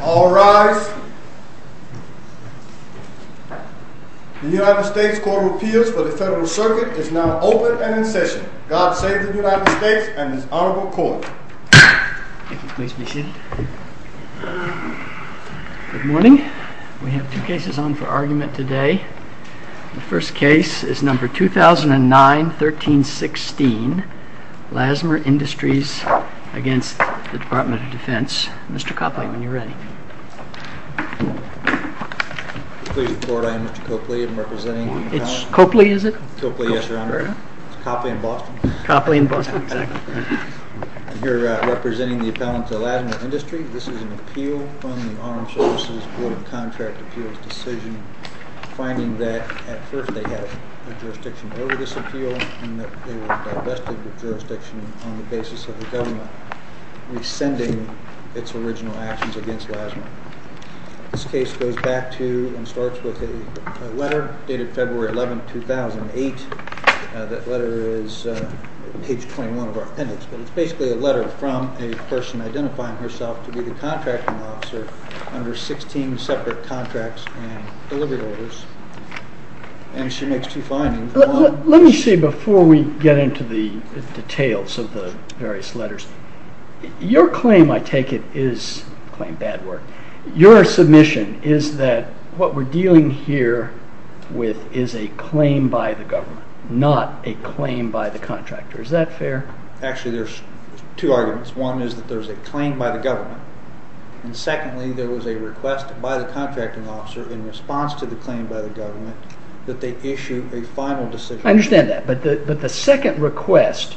All rise. The United States Court of Appeals for the Federal Circuit is now open and in session. God save the United States and his Honorable Court. Good morning. We have two cases on for argument today. The first case is number 2009-1316, Lassmer Industries v. Department of Defense. Mr. Copley, when you're ready. Please report. I am Mr. Copley. I'm representing... It's Copley, is it? Copley, yes, Your Honor. It's Copley in Boston. Copley in Boston, exactly. I'm here representing the appellant to Lassmer Industries. This is an appeal from the Armed Services Board of Contract Appeals decision, finding that at first they had jurisdiction over this appeal and that they were divested of jurisdiction on the basis of the government rescinding its original actions against Lassmer. This case goes back to and starts with a letter dated February 11, 2008. That letter is page 21 of our appendix, but it's basically a letter from a person identifying herself to be the contracting officer under 16 separate contracts and delivery orders. Let me see before we get into the details of the various letters. Your claim, I take it, is, claim bad word, your submission is that what we're dealing here with is a claim by the government, not a claim by the contractor. Is that fair? Actually, there's two arguments. One is that there's a claim by the government, and secondly, there was a request by the contracting officer in response to the claim by the government that they issue a final decision. I understand that, but the second request,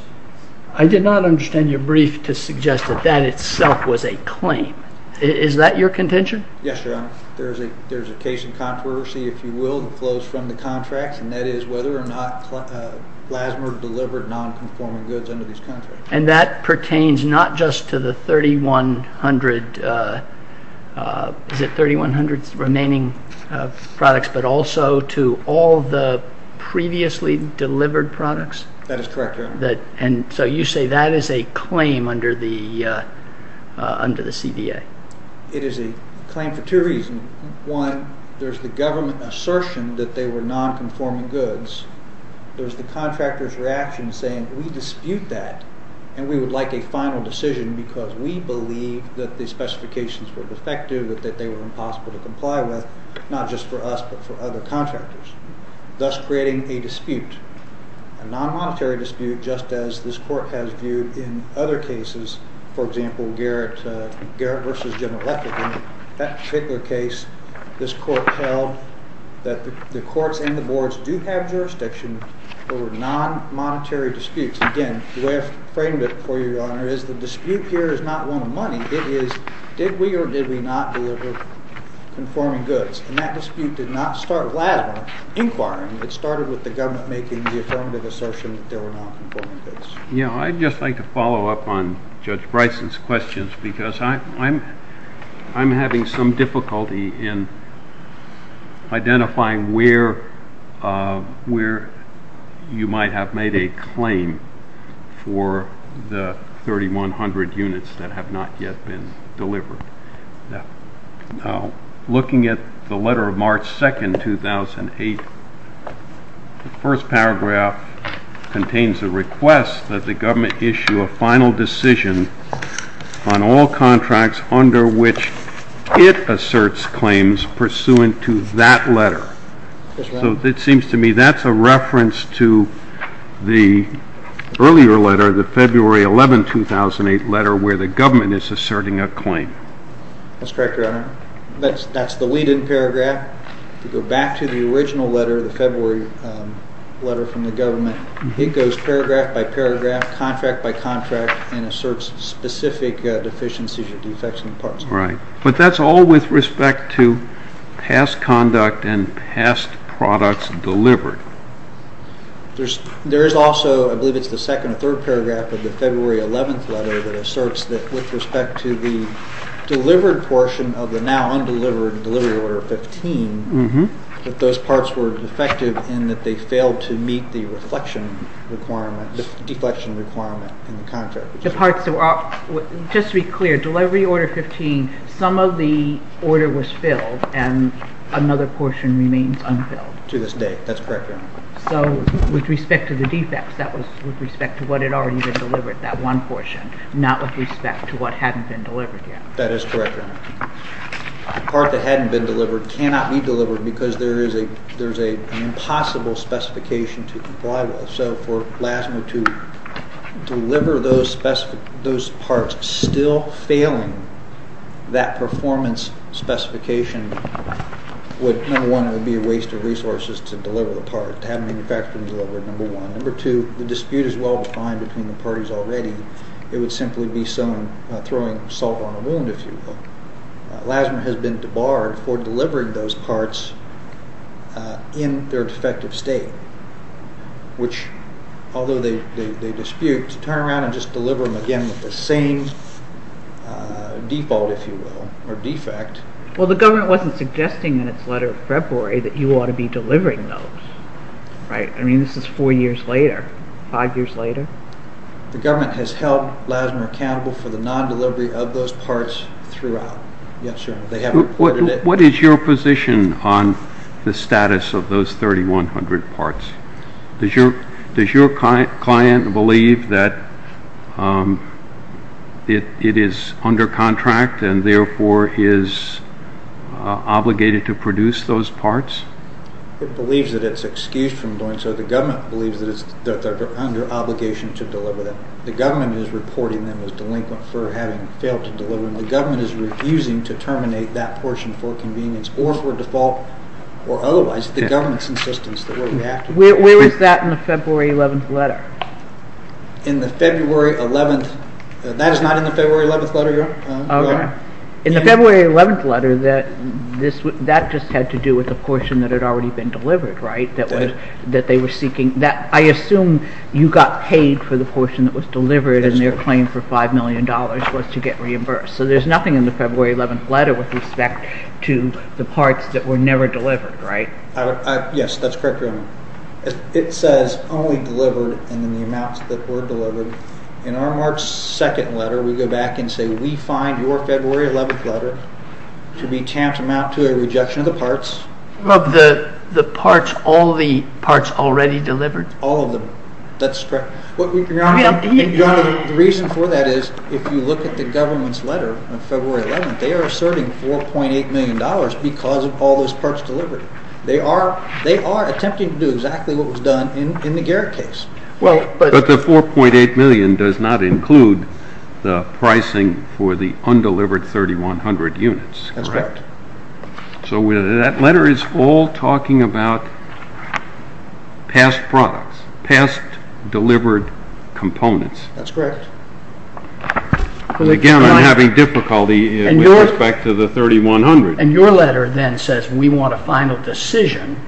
I did not understand your brief to suggest that that itself was a claim. Is that your contention? Yes, Your Honor. There's a case in controversy, if you will, that flows from the contracts, and that is whether or not Lassmer delivered non-conforming goods under these contracts. And that pertains not just to the 3,100 remaining products, but also to all the previously delivered products? That is correct, Your Honor. And so you say that is a claim under the CDA? It is a claim for two reasons. One, there's the government assertion that they were non-conforming goods. There's the contractor's reaction saying, we dispute that, and we would like a final decision because we believe that the specifications were defective, that they were impossible to comply with, not just for us, but for other contractors, thus creating a dispute, a non-monetary dispute, just as this Court has viewed in other cases. For example, Garrett v. General Lefferton, that particular case, this Court held that the courts and the boards do have jurisdiction over non-monetary disputes. Again, the way I've framed it for you, Your Honor, is the dispute here is not one of money. It is, did we or did we not deliver conforming goods? And that dispute did not start with Lassmer inquiring. It started with the government making the affirmative assertion that they were non-conforming goods. I'd just like to follow up on Judge Bryson's questions because I'm having some difficulty in identifying where you might have made a claim for the 3,100 units that have not yet been delivered. Now, looking at the letter of March 2, 2008, the first paragraph contains the request that the government issue a final decision on all contracts under which it asserts claims pursuant to that letter. So it seems to me that's a reference to the earlier letter, the February 11, 2008 letter, where the government is asserting a claim. That's correct, Your Honor. That's the lead-in paragraph. To go back to the original letter, the February letter from the government, it goes paragraph by paragraph, contract by contract, and asserts specific deficiencies or defects in parts. Right. But that's all with respect to past conduct and past products delivered. There is also, I believe it's the second or third paragraph of the February 11th letter that asserts that with respect to the delivered portion of the now undelivered delivery order 15, that those parts were defective in that they failed to meet the reflection requirement, the deflection requirement in the contract. Just to be clear, delivery order 15, some of the order was filled and another portion remains unfilled. To this day. That's correct, Your Honor. So with respect to the defects, that was with respect to what had already been delivered, that one portion, not with respect to what hadn't been delivered yet. That is correct, Your Honor. The part that hadn't been delivered cannot be delivered because there is an impossible specification to comply with. So for LASMA to deliver those parts still failing that performance specification would, number one, it would be a waste of resources to deliver the part, to have manufacturing deliver it, number one. Number two, the dispute is well defined between the parties already. It would simply be someone throwing salt on the wound, if you will. LASMA has been debarred for delivering those parts in their defective state, which, although they dispute, turn around and just deliver them again with the same default, if you will, or defect. Well, the government wasn't suggesting in its letter of February that you ought to be delivering those, right? I mean, this is four years later, five years later. The government has held LASMA accountable for the non-delivery of those parts throughout. Yes, sir. They have reported it. What is your position on the status of those 3,100 parts? Does your client believe that it is under contract and therefore is obligated to produce those parts? It believes that it's excused from doing so. The government believes that they're under obligation to deliver them. The government is reporting them as delinquent for having failed to deliver them. The government is refusing to terminate that portion for convenience or for default or otherwise. The government's insistence that we're reactive. Where is that in the February 11th letter? In the February 11th. That is not in the February 11th letter. In the February 11th letter, that just had to do with the portion that had already been delivered, right? I assume you got paid for the portion that was delivered and their claim for $5 million was to get reimbursed. So there's nothing in the February 11th letter with respect to the parts that were never delivered, right? Yes, that's correct, Your Honor. It says only delivered and then the amounts that were delivered. In our March 2nd letter, we go back and say we find your February 11th letter to be tantamount to a rejection of the parts. Of all the parts already delivered? All of them. That's correct. Your Honor, the reason for that is if you look at the government's letter on February 11th, they are asserting $4.8 million because of all those parts delivered. They are attempting to do exactly what was done in the Garrett case. But the $4.8 million does not include the pricing for the undelivered 3,100 units, correct? That's correct. So that letter is all talking about past products, past delivered components. That's correct. Again, I'm having difficulty with respect to the 3,100. And your letter then says we want a final decision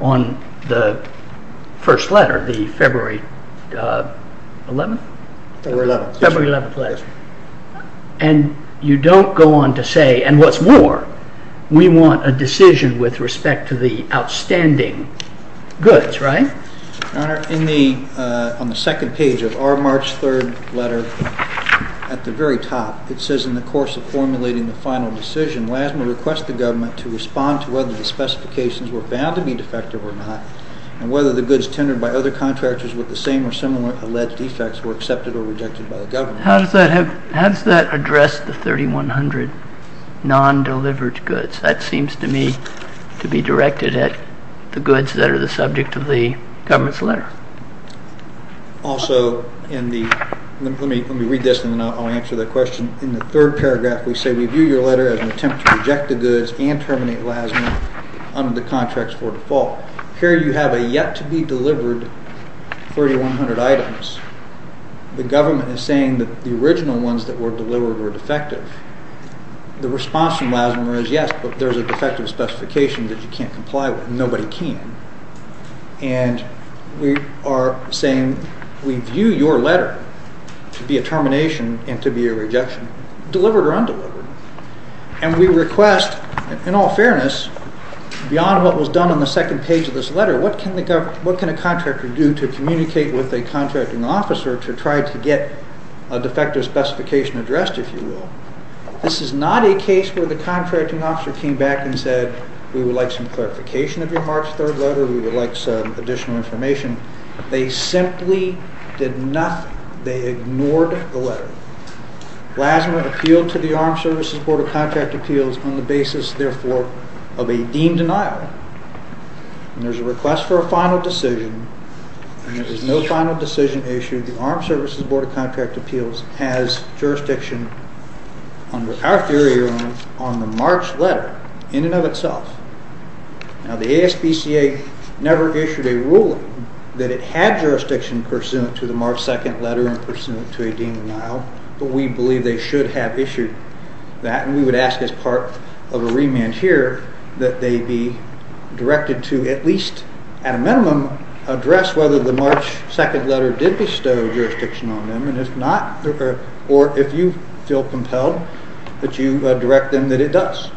on the first letter, the February 11th? February 11th. And you don't go on to say, and what's more, we want a decision with respect to the outstanding goods, right? Your Honor, on the second page of our March 3rd letter, at the very top, it says in the course of formulating the final decision, WASMA requests the government to respond to whether the specifications were found to be defective or not, and whether the goods tendered by other contractors with the same or similar alleged defects were accepted or rejected by the government. How does that address the 3,100 non-delivered goods? That seems to me to be directed at the goods that are the subject of the government's letter. Also, let me read this and then I'll answer that question. In the third paragraph, we say we view your letter as an attempt to reject the goods and terminate WASMA under the contracts for default. Here you have a yet-to-be-delivered 3,100 items. The government is saying that the original ones that were delivered were defective. The response from WASMA is yes, but there's a defective specification that you can't comply with, and nobody can. And we are saying we view your letter to be a termination and to be a rejection, delivered or undelivered. And we request, in all fairness, beyond what was done on the second page of this letter, what can a contractor do to communicate with a contracting officer to try to get a defective specification addressed, if you will? This is not a case where the contracting officer came back and said, we would like some clarification of your March 3rd letter, we would like some additional information. They simply did nothing. They ignored the letter. WASMA appealed to the Armed Services Board of Contract Appeals on the basis, therefore, of a deemed denial. And there's a request for a final decision, and there was no final decision issued. The Armed Services Board of Contract Appeals has jurisdiction, in our theory, on the March letter in and of itself. Now, the ASPCA never issued a ruling that it had jurisdiction pursuant to the March 2nd letter and pursuant to a deemed denial, but we believe they should have issued that. And we would ask as part of a remand here that they be directed to, at least at a minimum, address whether the March 2nd letter did bestow jurisdiction on them, and if not, or if you feel compelled, that you direct them that it does.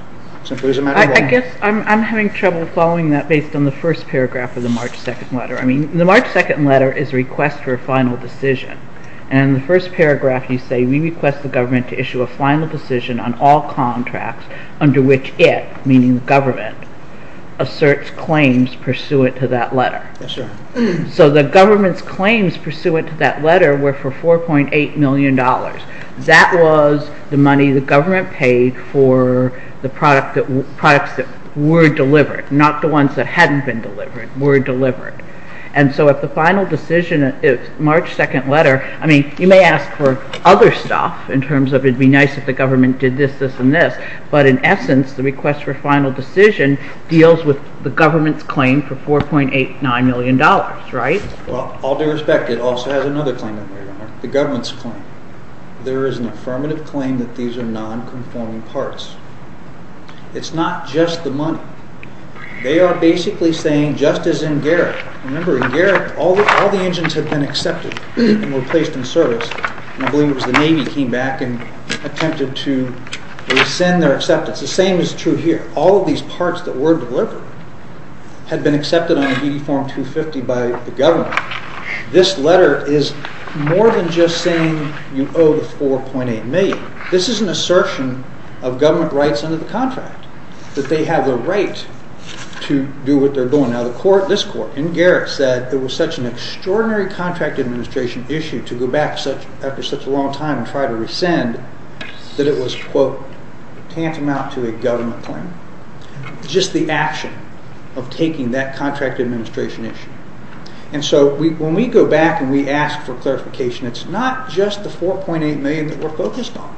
I guess I'm having trouble following that based on the first paragraph of the March 2nd letter. I mean, the March 2nd letter is a request for a final decision, and in the first paragraph you say, we request the government to issue a final decision on all contracts under which it, meaning the government, asserts claims pursuant to that letter. So the government's claims pursuant to that letter were for $4.8 million. That was the money the government paid for the products that were delivered, not the ones that hadn't been delivered, were delivered. And so if the final decision is March 2nd letter, I mean, you may ask for other stuff, in terms of it would be nice if the government did this, this, and this. But in essence, the request for final decision deals with the government's claim for $4.89 million, right? Well, all due respect, it also has another claim under there, the government's claim. There is an affirmative claim that these are non-conforming parts. It's not just the money. They are basically saying, just as in Garrett, remember in Garrett all the engines had been accepted and were placed in service, and I believe it was the Navy came back and attempted to rescind their acceptance. The same is true here. All of these parts that were delivered had been accepted on a duty form 250 by the government. This letter is more than just saying you owe the $4.8 million. This is an assertion of government rights under the contract, that they have the right to do what they're doing. Now, this court in Garrett said there was such an extraordinary contract administration issue to go back after such a long time and try to rescind, that it was, quote, tantamount to a government claim. Just the action of taking that contract administration issue. And so when we go back and we ask for clarification, it's not just the $4.8 million that we're focused on.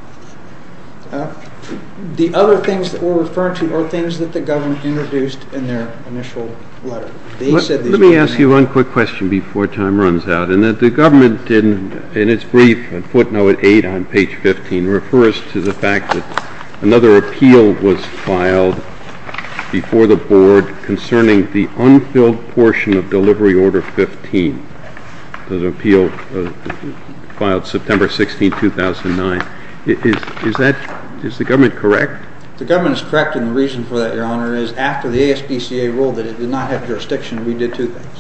The other things that we're referring to are things that the government introduced in their initial letter. Let me ask you one quick question before time runs out. The government, in its brief, footnote 8 on page 15, refers to the fact that another appeal was filed before the board concerning the unfilled portion of delivery order 15. The appeal filed September 16, 2009. Is the government correct? The government is correct, and the reason for that, Your Honor, is after the ASPCA ruled that it did not have jurisdiction, we did two things.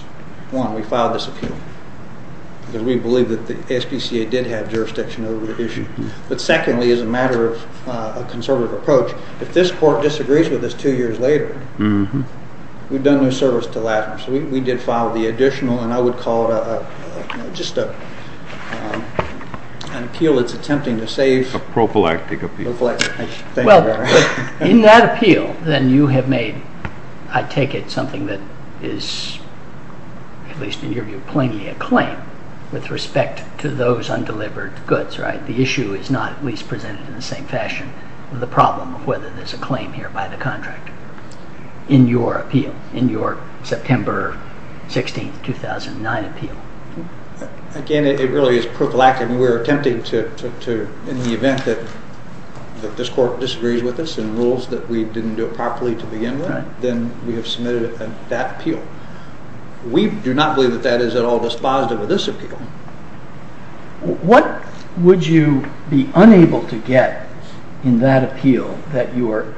One, we filed this appeal. Because we believe that the ASPCA did have jurisdiction over the issue. But secondly, as a matter of conservative approach, if this court disagrees with us two years later, we've done no service to Lassner. We did file the additional, and I would call it just an appeal that's attempting to save. A prophylactic appeal. A prophylactic. Thank you, Your Honor. In that appeal, then, you have made, I take it, something that is, at least in your view, plainly a claim with respect to those undelivered goods. The issue is not at least presented in the same fashion of the problem of whether there's a claim here by the contractor. In your appeal, in your September 16, 2009 appeal. Again, it really is prophylactic. We're attempting to, in the event that this court disagrees with us and rules that we didn't do it properly to begin with, then we have submitted that appeal. We do not believe that that is at all dispositive of this appeal. What would you be unable to get in that appeal that you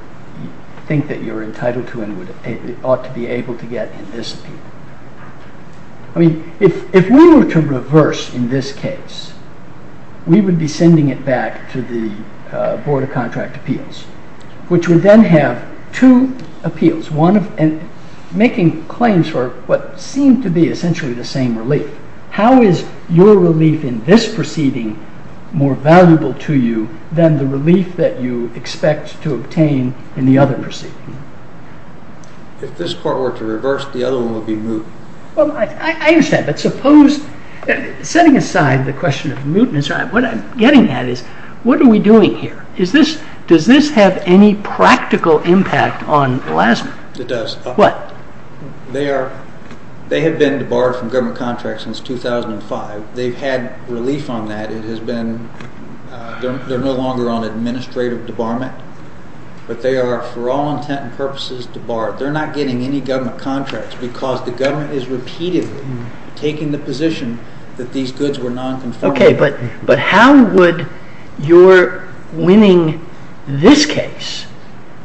think that you're entitled to and ought to be able to get in this appeal? I mean, if we were to reverse in this case, we would be sending it back to the Board of Contract Appeals, which would then have two appeals, one making claims for what seemed to be essentially the same relief. How is your relief in this proceeding more valuable to you than the relief that you expect to obtain in the other proceeding? If this court were to reverse, the other one would be moot. I understand, but suppose, setting aside the question of mootness, what I'm getting at is, what are we doing here? Does this have any practical impact on Elasmin? It does. What? They have been debarred from government contracts since 2005. They've had relief on that. They're no longer on administrative debarment, but they are for all intent and purposes debarred. They're not getting any government contracts because the government is repeatedly taking the position that these goods were non-conformity. Okay, but how would your winning this case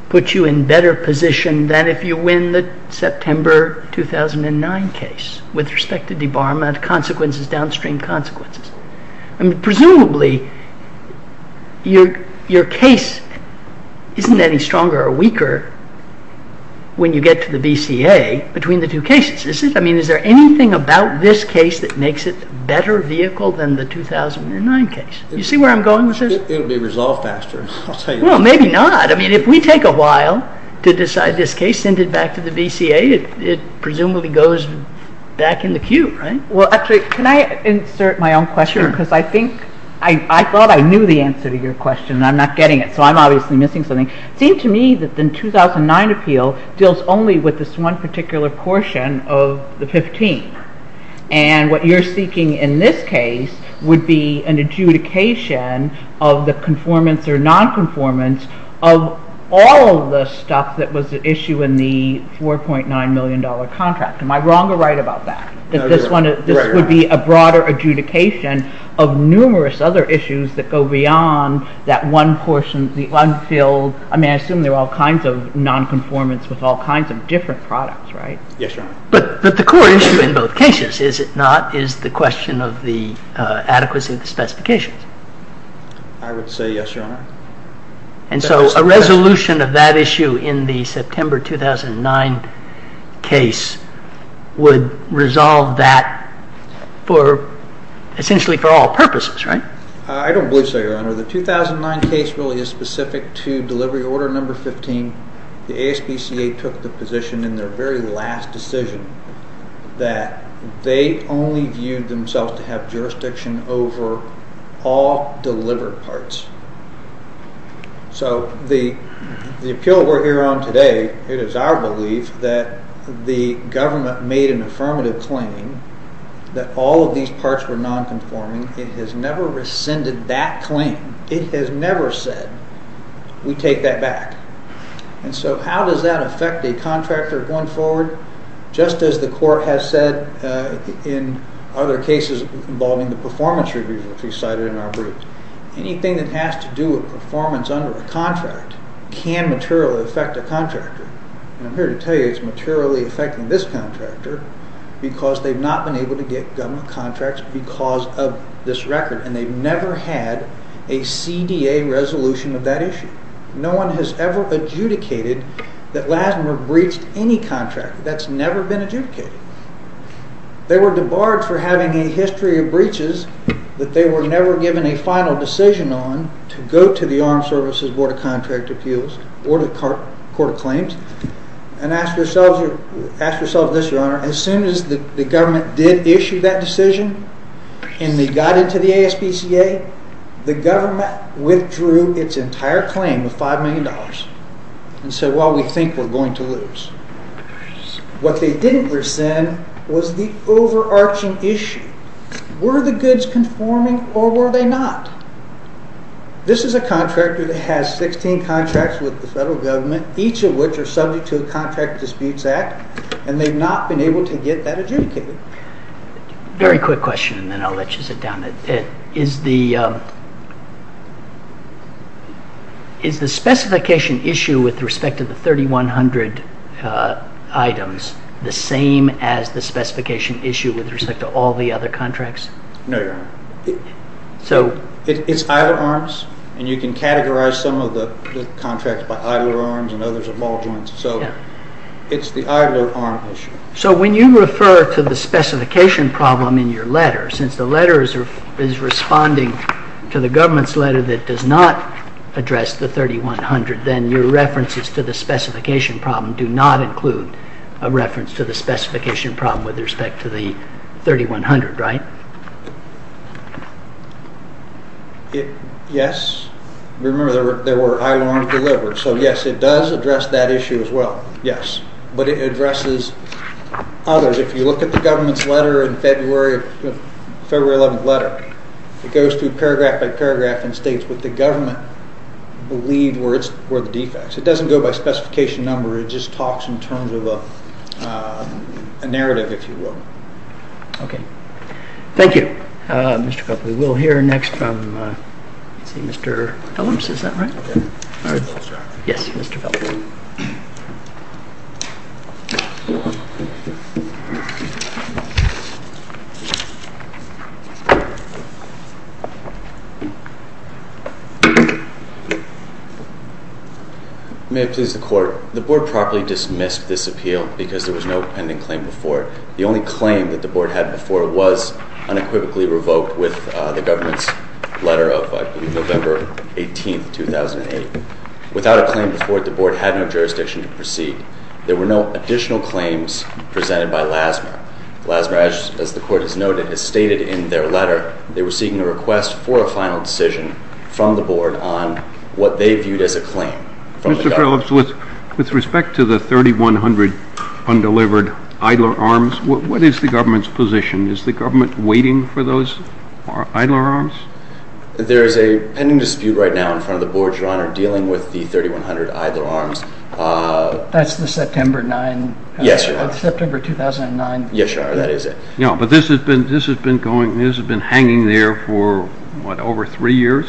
put you in better position than if you win the September 2009 case with respect to debarment consequences, downstream consequences? I mean, presumably, your case isn't any stronger or weaker when you get to the BCA between the two cases, is it? I mean, is there anything about this case that makes it a better vehicle than the 2009 case? You see where I'm going with this? It'll be resolved faster, I'll tell you that. Well, maybe not. I mean, if we take a while to decide this case, send it back to the BCA, it presumably goes back in the queue, right? Well, actually, can I insert my own question? Sure. Because I thought I knew the answer to your question, and I'm not getting it, so I'm obviously missing something. It seemed to me that the 2009 appeal deals only with this one particular portion of the 15, and what you're seeking in this case would be an adjudication of the conformance or non-conformance of all the stuff that was at issue in the $4.9 million contract. Am I wrong or right about that? That this would be a broader adjudication of numerous other issues that go beyond that one portion, the unfilled, I mean, I assume there are all kinds of non-conformance with all kinds of different products, right? Yes, Your Honor. But the core issue in both cases, is it not, is the question of the adequacy of the specifications. I would say yes, Your Honor. And so a resolution of that issue in the September 2009 case would resolve that essentially for all purposes, right? I don't believe so, Your Honor. The 2009 case really is specific to delivery order number 15. The ASPCA took the position in their very last decision that they only viewed themselves to have jurisdiction over all delivered parts. So the appeal we're here on today, it is our belief that the government made an affirmative claim that all of these parts were non-conforming. It has never rescinded that claim. It has never said, we take that back. And so how does that affect a contractor going forward? Just as the court has said in other cases involving the performance review which we cited in our brief, anything that has to do with performance under a contract can materially affect a contractor. And I'm here to tell you it's materially affecting this contractor because they've not been able to get government contracts because of this record. And they've never had a CDA resolution of that issue. No one has ever adjudicated that Lassner breached any contract. That's never been adjudicated. They were debarred for having a history of breaches that they were never given a final decision on to go to the Armed Services Board of Contract Appeals or the Court of Claims and ask yourselves this, Your Honor. As soon as the government did issue that decision and they got into the ASPCA, the government withdrew its entire claim of $5 million and said, well, we think we're going to lose. What they didn't rescind was the overarching issue. Were the goods conforming or were they not? This is a contractor that has 16 contracts with the federal government, each of which are subject to a Contract Disputes Act, and they've not been able to get that adjudicated. Very quick question and then I'll let you sit down. Is the specification issue with respect to the 3,100 items the same as the specification issue with respect to all the other contracts? No, Your Honor. It's idler arms, and you can categorize some of the contracts by idler arms and others are ball joints. It's the idler arm issue. So when you refer to the specification problem in your letter, since the letter is responding to the government's letter that does not address the 3,100, then your references to the specification problem do not include a reference to the specification problem with respect to the 3,100, right? Yes. Remember, they were idler arms delivered. So yes, it does address that issue as well. Yes, but it addresses others. If you look at the government's letter in February 11th letter, it goes through paragraph by paragraph and states what the government believed were the defects. It doesn't go by specification number. It just talks in terms of a narrative, if you will. Okay. Thank you, Mr. Copley. We'll hear next from Mr. Phelps. Is that right? Yes, Mr. Phelps. Thank you. May it please the Court. The Board properly dismissed this appeal because there was no pending claim before it. The only claim that the Board had before it was unequivocally revoked with the government's letter of November 18th, 2008. There were no additional claims presented by LASMR. LASMR, as the Court has noted, has stated in their letter they were seeking a request for a final decision from the Board on what they viewed as a claim from the government. Mr. Phelps, with respect to the 3,100 undelivered idler arms, what is the government's position? Is the government waiting for those idler arms? There is a pending dispute right now in front of the Board, Your Honor, dealing with the 3,100 idler arms. That's the September 2009? Yes, Your Honor, that is it. But this has been hanging there for over three years?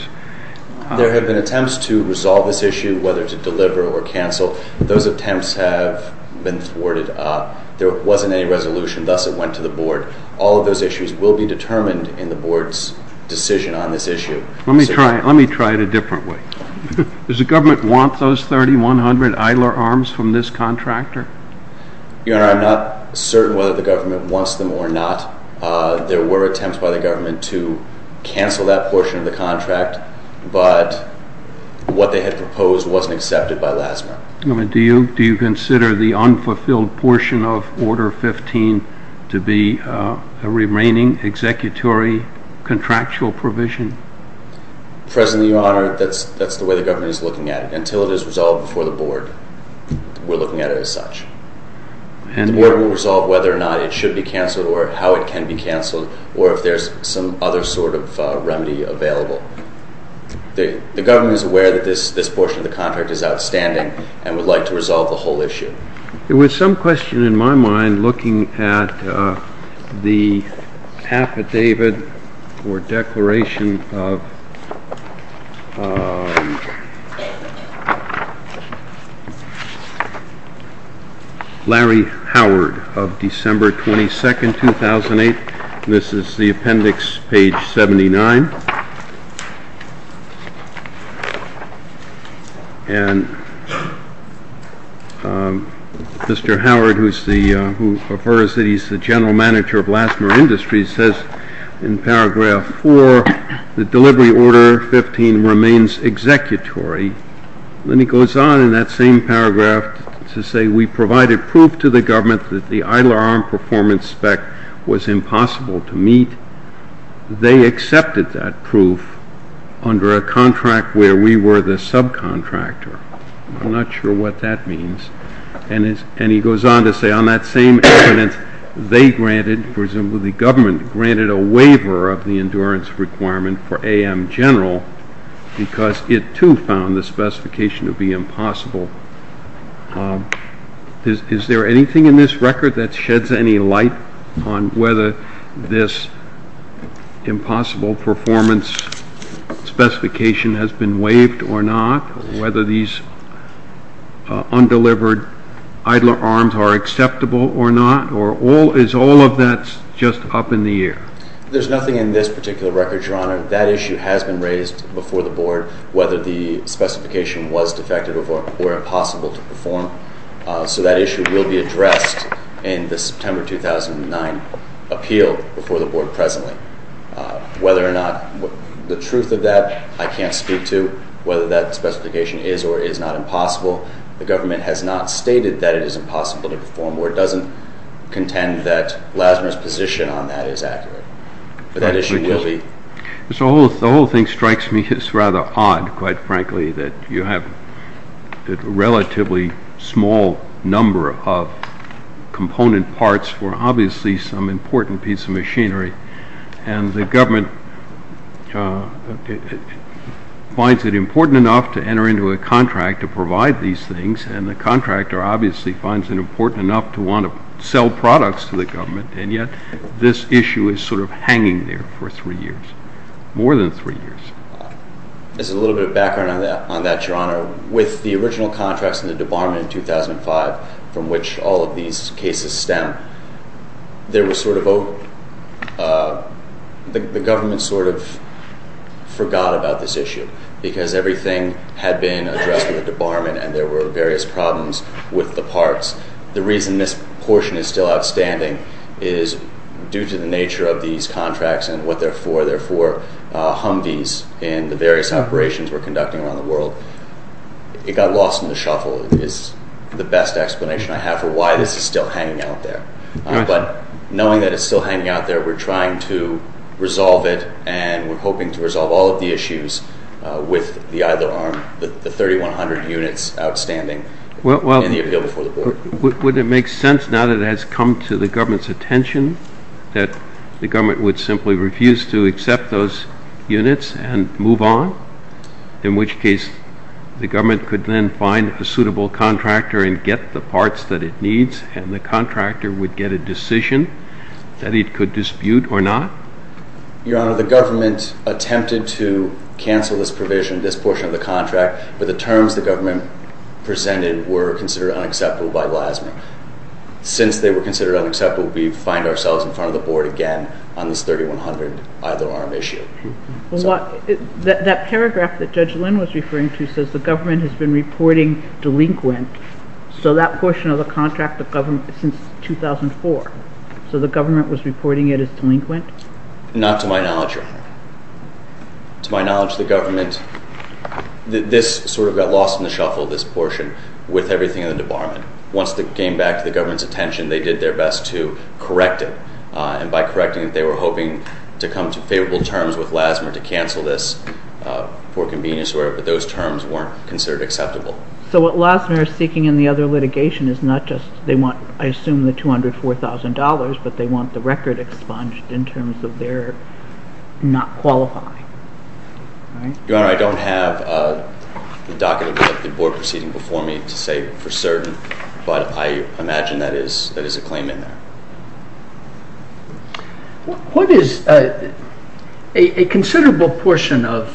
There have been attempts to resolve this issue, whether to deliver or cancel. Those attempts have been thwarted. There wasn't any resolution, thus it went to the Board. All of those issues will be determined in the Board's decision on this issue. Let me try it a different way. Does the government want those 3,100 idler arms from this contractor? Your Honor, I'm not certain whether the government wants them or not. There were attempts by the government to cancel that portion of the contract, but what they had proposed wasn't accepted by LASMR. Do you consider the unfulfilled portion of Order 15 to be a remaining executory contractual provision? Presently, Your Honor, that's the way the government is looking at it. Until it is resolved before the Board, we're looking at it as such. The Board will resolve whether or not it should be canceled or how it can be canceled or if there's some other sort of remedy available. The government is aware that this portion of the contract is outstanding and would like to resolve the whole issue. There was some question in my mind in looking at the affidavit or declaration of Larry Howard of December 22, 2008. This is the appendix, page 79. And Mr. Howard, who refers that he's the general manager of LASMR Industries, says in paragraph 4 that Delivery Order 15 remains executory. Then he goes on in that same paragraph to say, We provided proof to the government that the idler arm performance spec was impossible to meet. They accepted that proof under a contract where we were the subcontractor. I'm not sure what that means. And he goes on to say, On that same evidence, they granted, for example, the government granted a waiver of the endurance requirement for AM General because it, too, found the specification to be impossible. Is there anything in this record that sheds any light on whether this impossible performance specification has been waived or not? Whether these undelivered idler arms are acceptable or not? Or is all of that just up in the air? There's nothing in this particular record, Your Honor. That issue has been raised before the Board, whether the specification was defective or impossible to perform. So that issue will be addressed in the September 2009 appeal before the Board presently. Whether or not the truth of that, I can't speak to. Whether that specification is or is not impossible, the government has not stated that it is impossible to perform or doesn't contend that LASMR's position on that is accurate. But that issue will be. The whole thing strikes me as rather odd, quite frankly, that you have a relatively small number of component parts for obviously some important piece of machinery, and the government finds it important enough to enter into a contract to provide these things, and the contractor obviously finds it important enough to want to sell products to the government, and yet this issue is sort of hanging there for three years, more than three years. As a little bit of background on that, Your Honor, with the original contracts in the debarment in 2005 from which all of these cases stem, the government sort of forgot about this issue because everything had been addressed in the debarment and there were various problems with the parts. The reason this portion is still outstanding is due to the nature of these contracts and what their four Humvees in the various operations were conducting around the world. It got lost in the shuffle is the best explanation I have for why this is still hanging out there. But knowing that it's still hanging out there, we're trying to resolve it, and we're hoping to resolve all of the issues with the either arm, the 3,100 units outstanding in the appeal before the board. Would it make sense now that it has come to the government's attention that the government would simply refuse to accept those units and move on, in which case the government could then find a suitable contractor and get the parts that it needs and the contractor would get a decision that it could dispute or not? Your Honor, the government attempted to cancel this provision, this portion of the contract, but the terms the government presented were considered unacceptable by LASME. Since they were considered unacceptable, we find ourselves in front of the board again on this 3,100 either arm issue. That paragraph that Judge Lynn was referring to says the government has been reporting delinquent, so that portion of the contract, the government, since 2004. So the government was reporting it as delinquent? Not to my knowledge, Your Honor. To my knowledge, the government, this sort of got lost in the shuffle, this portion, with everything in the debarment. Once it came back to the government's attention, they did their best to correct it, and by correcting it, they were hoping to come to favorable terms with LASME to cancel this for convenience, but those terms weren't considered acceptable. So what LASME are seeking in the other litigation is not just, they want, I assume, the $204,000, but they want the record expunged in terms of their not qualifying. Your Honor, I don't have the docket of the board proceeding before me to say for certain, but I imagine that is a claim in there. A considerable portion of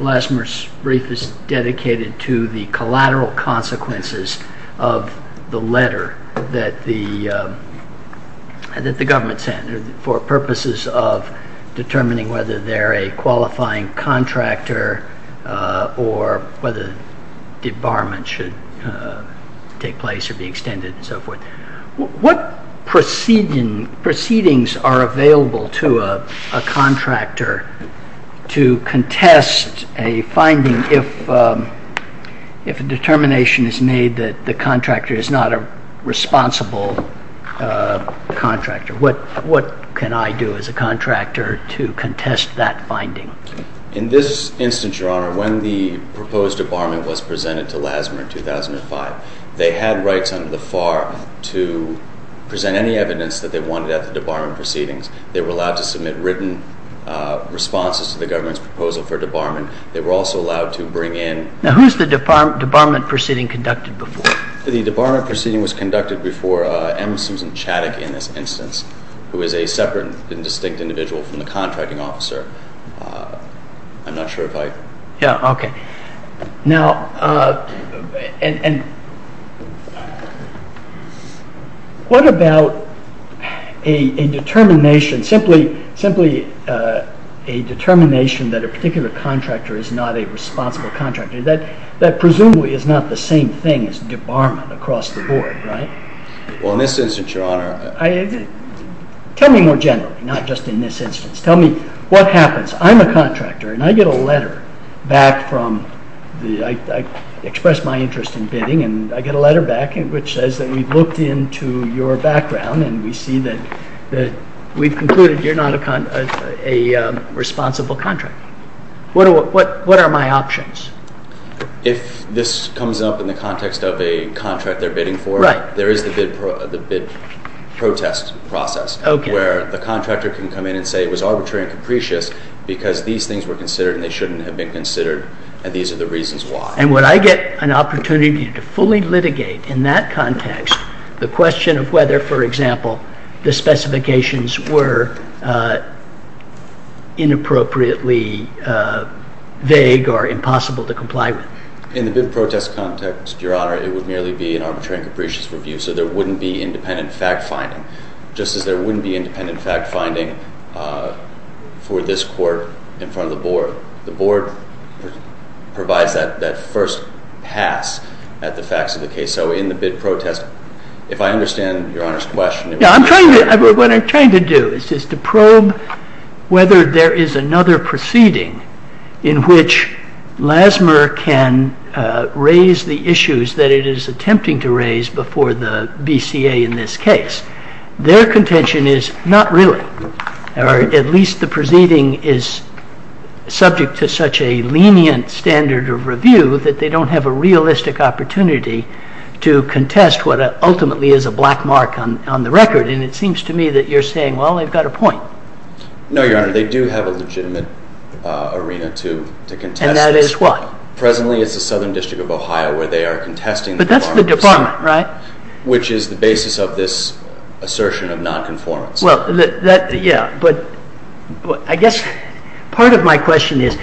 LASME's brief is dedicated to the collateral consequences of the letter that the government sent for purposes of determining whether they're a qualifying contractor or whether debarment should take place or be extended and so forth. What proceedings are available to a contractor to contest a finding if a determination is made that the contractor is not a responsible contractor? What can I do as a contractor to contest that finding? In this instance, Your Honor, when the proposed debarment was presented to LASME in 2005, they had rights under the FAR to present any evidence that they wanted at the debarment proceedings. They were allowed to submit written responses to the government's proposal for debarment. They were also allowed to bring in... Now, who's the debarment proceeding conducted before? The debarment proceeding was conducted before M. Susan Chaddock in this instance, who is a separate and distinct individual from the contracting officer. I'm not sure if I... Yeah, okay. Now, what about a determination, simply a determination that a particular contractor is not a responsible contractor? That presumably is not the same thing as debarment across the board, right? Well, in this instance, Your Honor... Tell me more generally, not just in this instance. Tell me what happens. I'm a contractor, and I get a letter back from the... I express my interest in bidding, and I get a letter back, which says that we've looked into your background, and we see that we've concluded you're not a responsible contractor. What are my options? If this comes up in the context of a contract they're bidding for, there is the bid protest process, where the contractor can come in and say it was arbitrary and capricious because these things were considered and they shouldn't have been considered, and these are the reasons why. And would I get an opportunity to fully litigate in that context the question of whether, for example, the specifications were inappropriately vague or impossible to comply with? In the bid protest context, Your Honor, it would merely be an arbitrary and capricious review, so there wouldn't be independent fact-finding, just as there wouldn't be independent fact-finding for this court in front of the board. The board provides that first pass at the facts of the case. So in the bid protest, if I understand Your Honor's question... What I'm trying to do is just to probe whether there is another proceeding in which LASMR can raise the issues that it is attempting to raise before the BCA in this case. Their contention is not really, or at least the proceeding is subject to such a lenient standard of review that they don't have a realistic opportunity to contest what ultimately is a black mark on the record, and it seems to me that you're saying, well, they've got a point. No, Your Honor, they do have a legitimate arena to contest this. And that is what? Presently, it's the Southern District of Ohio where they are contesting... Right. ...which is the basis of this assertion of non-conformance. Well, yeah, but I guess part of my question is,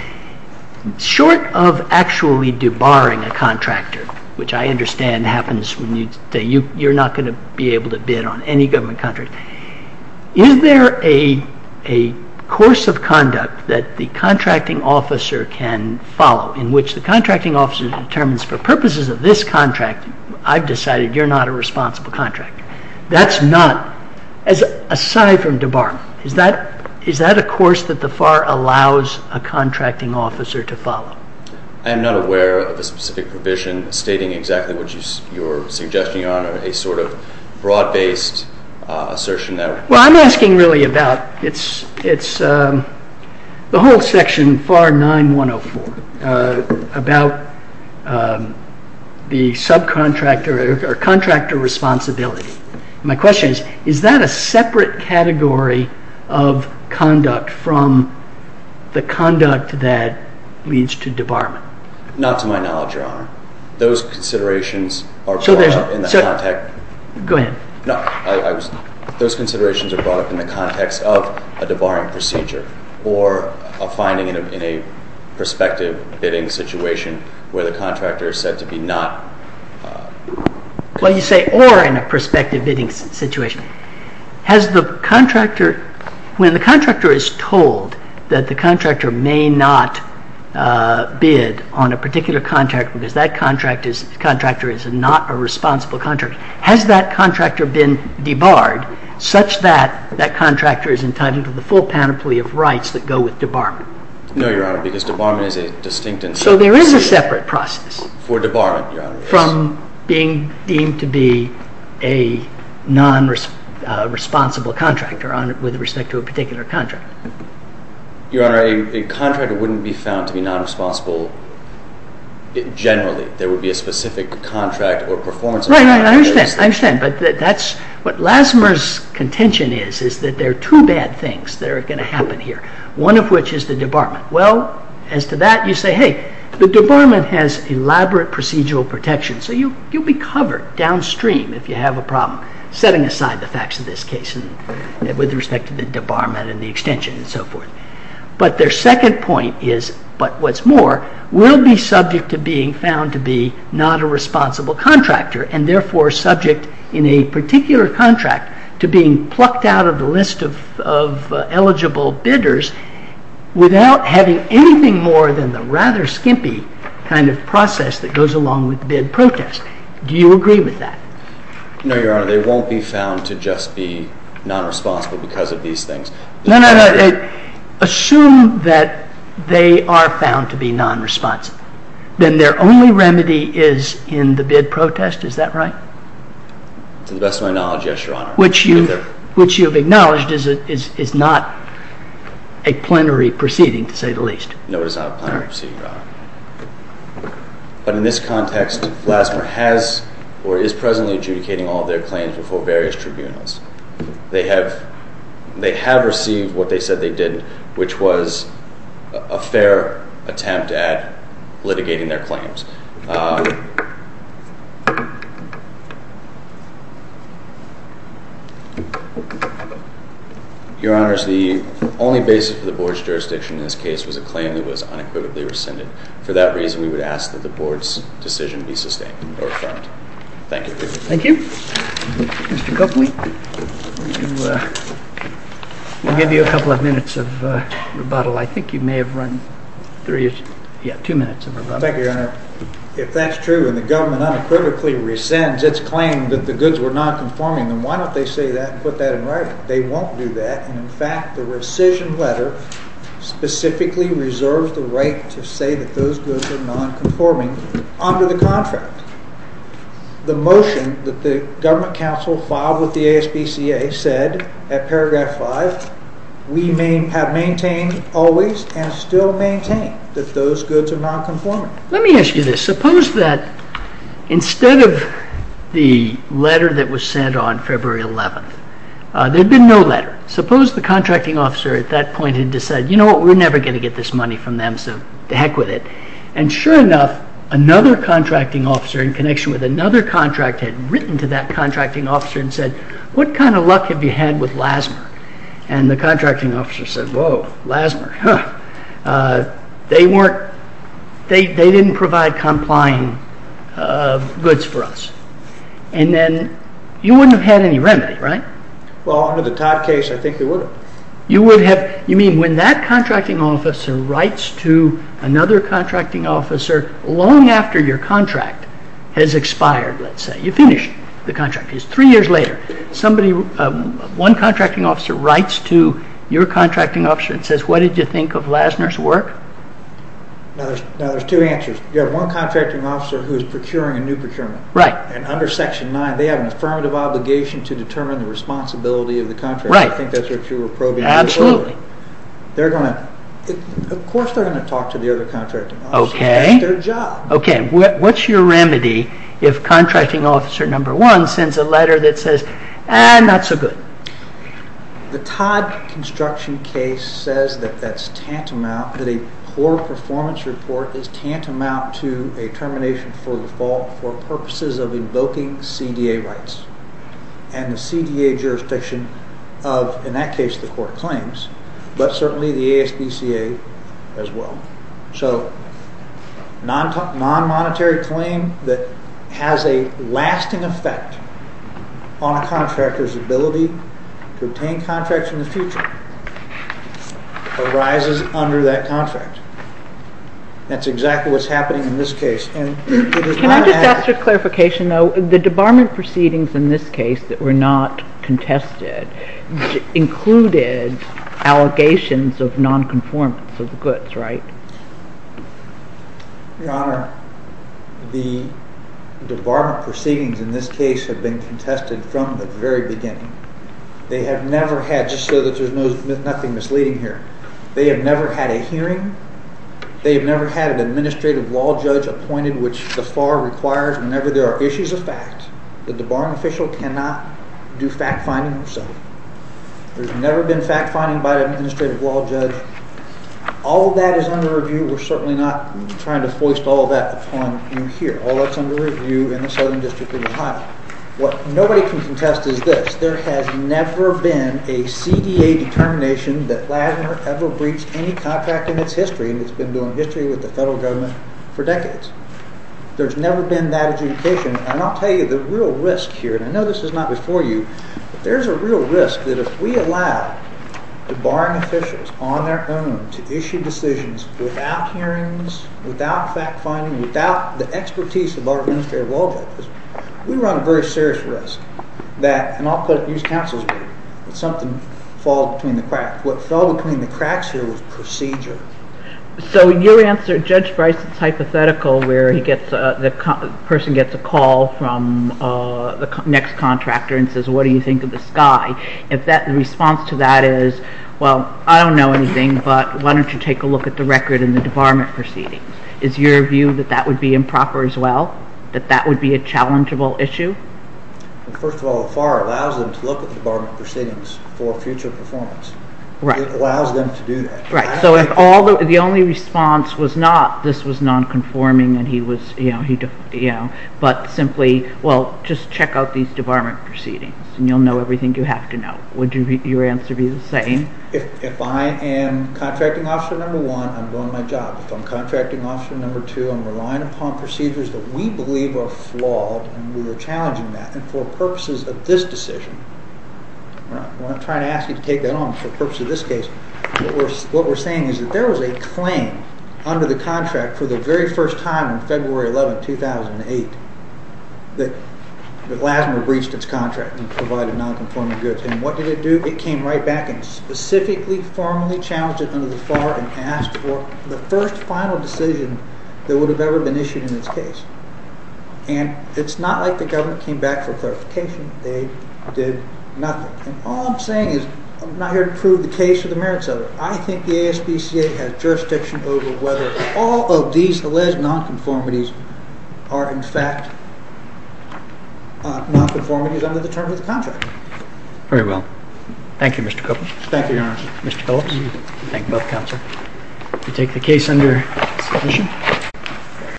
short of actually debarring a contractor, which I understand happens when you say you're not going to be able to bid on any government contract, is there a course of conduct that the contracting officer can follow in which the contracting officer determines for purposes of this contract I've decided you're not a responsible contractor? That's not, aside from debarring, is that a course that the FAR allows a contracting officer to follow? I am not aware of a specific provision stating exactly what you're suggesting, Your Honor, a sort of broad-based assertion that... Well, I'm asking really about, it's the whole section, FAR 9-104, about the subcontractor or contractor responsibility. My question is, is that a separate category of conduct from the conduct that leads to debarment? Not to my knowledge, Your Honor. Those considerations are brought up in the context... Go ahead. No, those considerations are brought up in the context of a debarring procedure or a finding in a prospective bidding situation where the contractor is said to be not... Well, you say or in a prospective bidding situation. Has the contractor, when the contractor is told that the contractor may not bid on a particular contract because that contractor is not a responsible contractor, has that contractor been debarred such that that contractor is entitled to the full panoply of rights that go with debarment? No, Your Honor, because debarment is a distinct... So there is a separate process... For debarment, Your Honor. ...from being deemed to be a non-responsible contractor with respect to a particular contract. Your Honor, a contractor wouldn't be found to be non-responsible generally. There would be a specific contract or performance... Right, right, I understand, I understand, but what Lassmer's contention is is that there are two bad things that are going to happen here, one of which is the debarment. Well, as to that, you say, hey, the debarment has elaborate procedural protection, so you'll be covered downstream if you have a problem setting aside the facts of this case with respect to the debarment and the extension and so forth. But their second point is, but what's more, will be subject to being found to be not a responsible contractor and therefore subject in a particular contract to being plucked out of the list of eligible bidders without having anything more than the rather skimpy kind of process that goes along with bid protest. Do you agree with that? No, Your Honor, they won't be found to just be non-responsible because of these things. No, no, no, assume that they are found to be non-responsible. Then their only remedy is in the bid protest, is that right? To the best of my knowledge, yes, Your Honor. Which you have acknowledged is not a plenary proceeding, to say the least. No, it is not a plenary proceeding, Your Honor. But in this context, Flassberg has or is presently adjudicating all their claims before various tribunals. They have received what they said they did, which was a fair attempt at litigating their claims. Your Honors, the only basis for the Board's jurisdiction in this case was a claim that was unequivocally rescinded. For that reason, we would ask that the Board's decision be sustained or affirmed. Thank you. Thank you. Mr. Copley, we'll give you a couple of minutes of rebuttal. I think you may have run two minutes of rebuttal. Thank you, Your Honor. If that's true and the government unequivocally rescinds its claim that the goods were non-conforming, then why don't they say that and put that in writing? They won't do that. In fact, the rescission letter specifically reserves the right to say that those goods were non-conforming under the contract. The motion that the government counsel filed with the ASBCA said, at paragraph 5, we have maintained always and still maintain that those goods are non-conforming. Let me ask you this. Suppose that instead of the letter that was sent on February 11th, there had been no letter. Suppose the contracting officer at that point had decided, you know what, we're never going to get this money from them, so to heck with it. Sure enough, another contracting officer, in connection with another contract, had written to that contracting officer and said, what kind of luck have you had with LASMR? The contracting officer said, whoa, LASMR. They didn't provide complying goods for us. Then you wouldn't have had any remedy, right? Well, under the Todd case, I think they would have. You mean when that contracting officer writes to another contracting officer long after your contract has expired, let's say. You finish the contract. It's three years later. One contracting officer writes to your contracting officer and says, what did you think of LASMR's work? Now, there's two answers. You have one contracting officer who is procuring a new procurement. Right. Under section 9, they have an affirmative obligation to determine the responsibility of the contractor. Right. I think that's what you were probing. Absolutely. Of course they're going to talk to the other contracting officer. Okay. That's their job. Okay. What's your remedy if contracting officer number one sends a letter that says, ah, not so good? The Todd construction case says that that's tantamount, that a poor performance report is tantamount to a termination for default for purposes of invoking CDA rights. And the CDA jurisdiction of, in that case, the court claims, but certainly the ASBCA as well. So non-monetary claim that has a lasting effect on a contractor's ability to obtain contracts in the future arises under that contract. That's exactly what's happening in this case. Can I just ask for clarification, though? The debarment proceedings in this case that were not contested included allegations of non-conformance of the goods, right? Your Honor, the debarment proceedings in this case have been contested from the very beginning. They have never had, just so that there's nothing misleading here, they have never had a hearing, they have never had an administrative law judge appointed, which the FAR requires whenever there are issues of fact that the barring official cannot do fact-finding himself. There's never been fact-finding by an administrative law judge. All of that is under review. We're certainly not trying to foist all of that upon you here. All that's under review in the Southern District of Ohio. What nobody can contest is this. There has never been a CDA determination that LASMR ever breached any contract in its history, and it's been doing history with the federal government for decades. There's never been that adjudication. And I'll tell you, the real risk here, and I know this is not before you, but there's a real risk that if we allow the barring officials on their own to issue decisions without hearings, without fact-finding, without the expertise of our administrative law judges, we run a very serious risk that, and I'll put it, use counsel's word, that something falls between the cracks. What fell between the cracks here was procedure. So your answer, Judge Bryce, it's hypothetical where the person gets a call from the next contractor and says, what do you think of the sky? If the response to that is, well, I don't know anything, but why don't you take a look at the record and the debarment proceedings, is your view that that would be improper as well, that that would be a challengeable issue? First of all, the FAR allows them to look at the debarment proceedings for future performance. It allows them to do that. Right, so if the only response was not this was nonconforming and he was, you know, but simply, well, just check out these debarment proceedings and you'll know everything you have to know. Would your answer be the same? If I am contracting officer number one, I'm doing my job. If I'm contracting officer number two, I'm relying upon procedures that we believe are flawed and we are challenging that, and for purposes of this decision, we're not trying to ask you to take that on, for the purpose of this case. What we're saying is that there was a claim under the contract for the very first time on February 11, 2008, that LASMA breached its contract and provided nonconforming goods. And what did it do? It came right back and specifically formally challenged it under the FAR and asked for the first final decision that would have ever been issued in this case. And it's not like the government came back for clarification. They did nothing. All I'm saying is I'm not here to prove the case or the merits of it. I think the ASPCA has jurisdiction over whether all of these alleged nonconformities are in fact nonconformities under the terms of the contract. Very well. Thank you, Mr. Copeland. Thank you, Your Honor. Mr. Phillips, thank both counsel. We take the case under submission.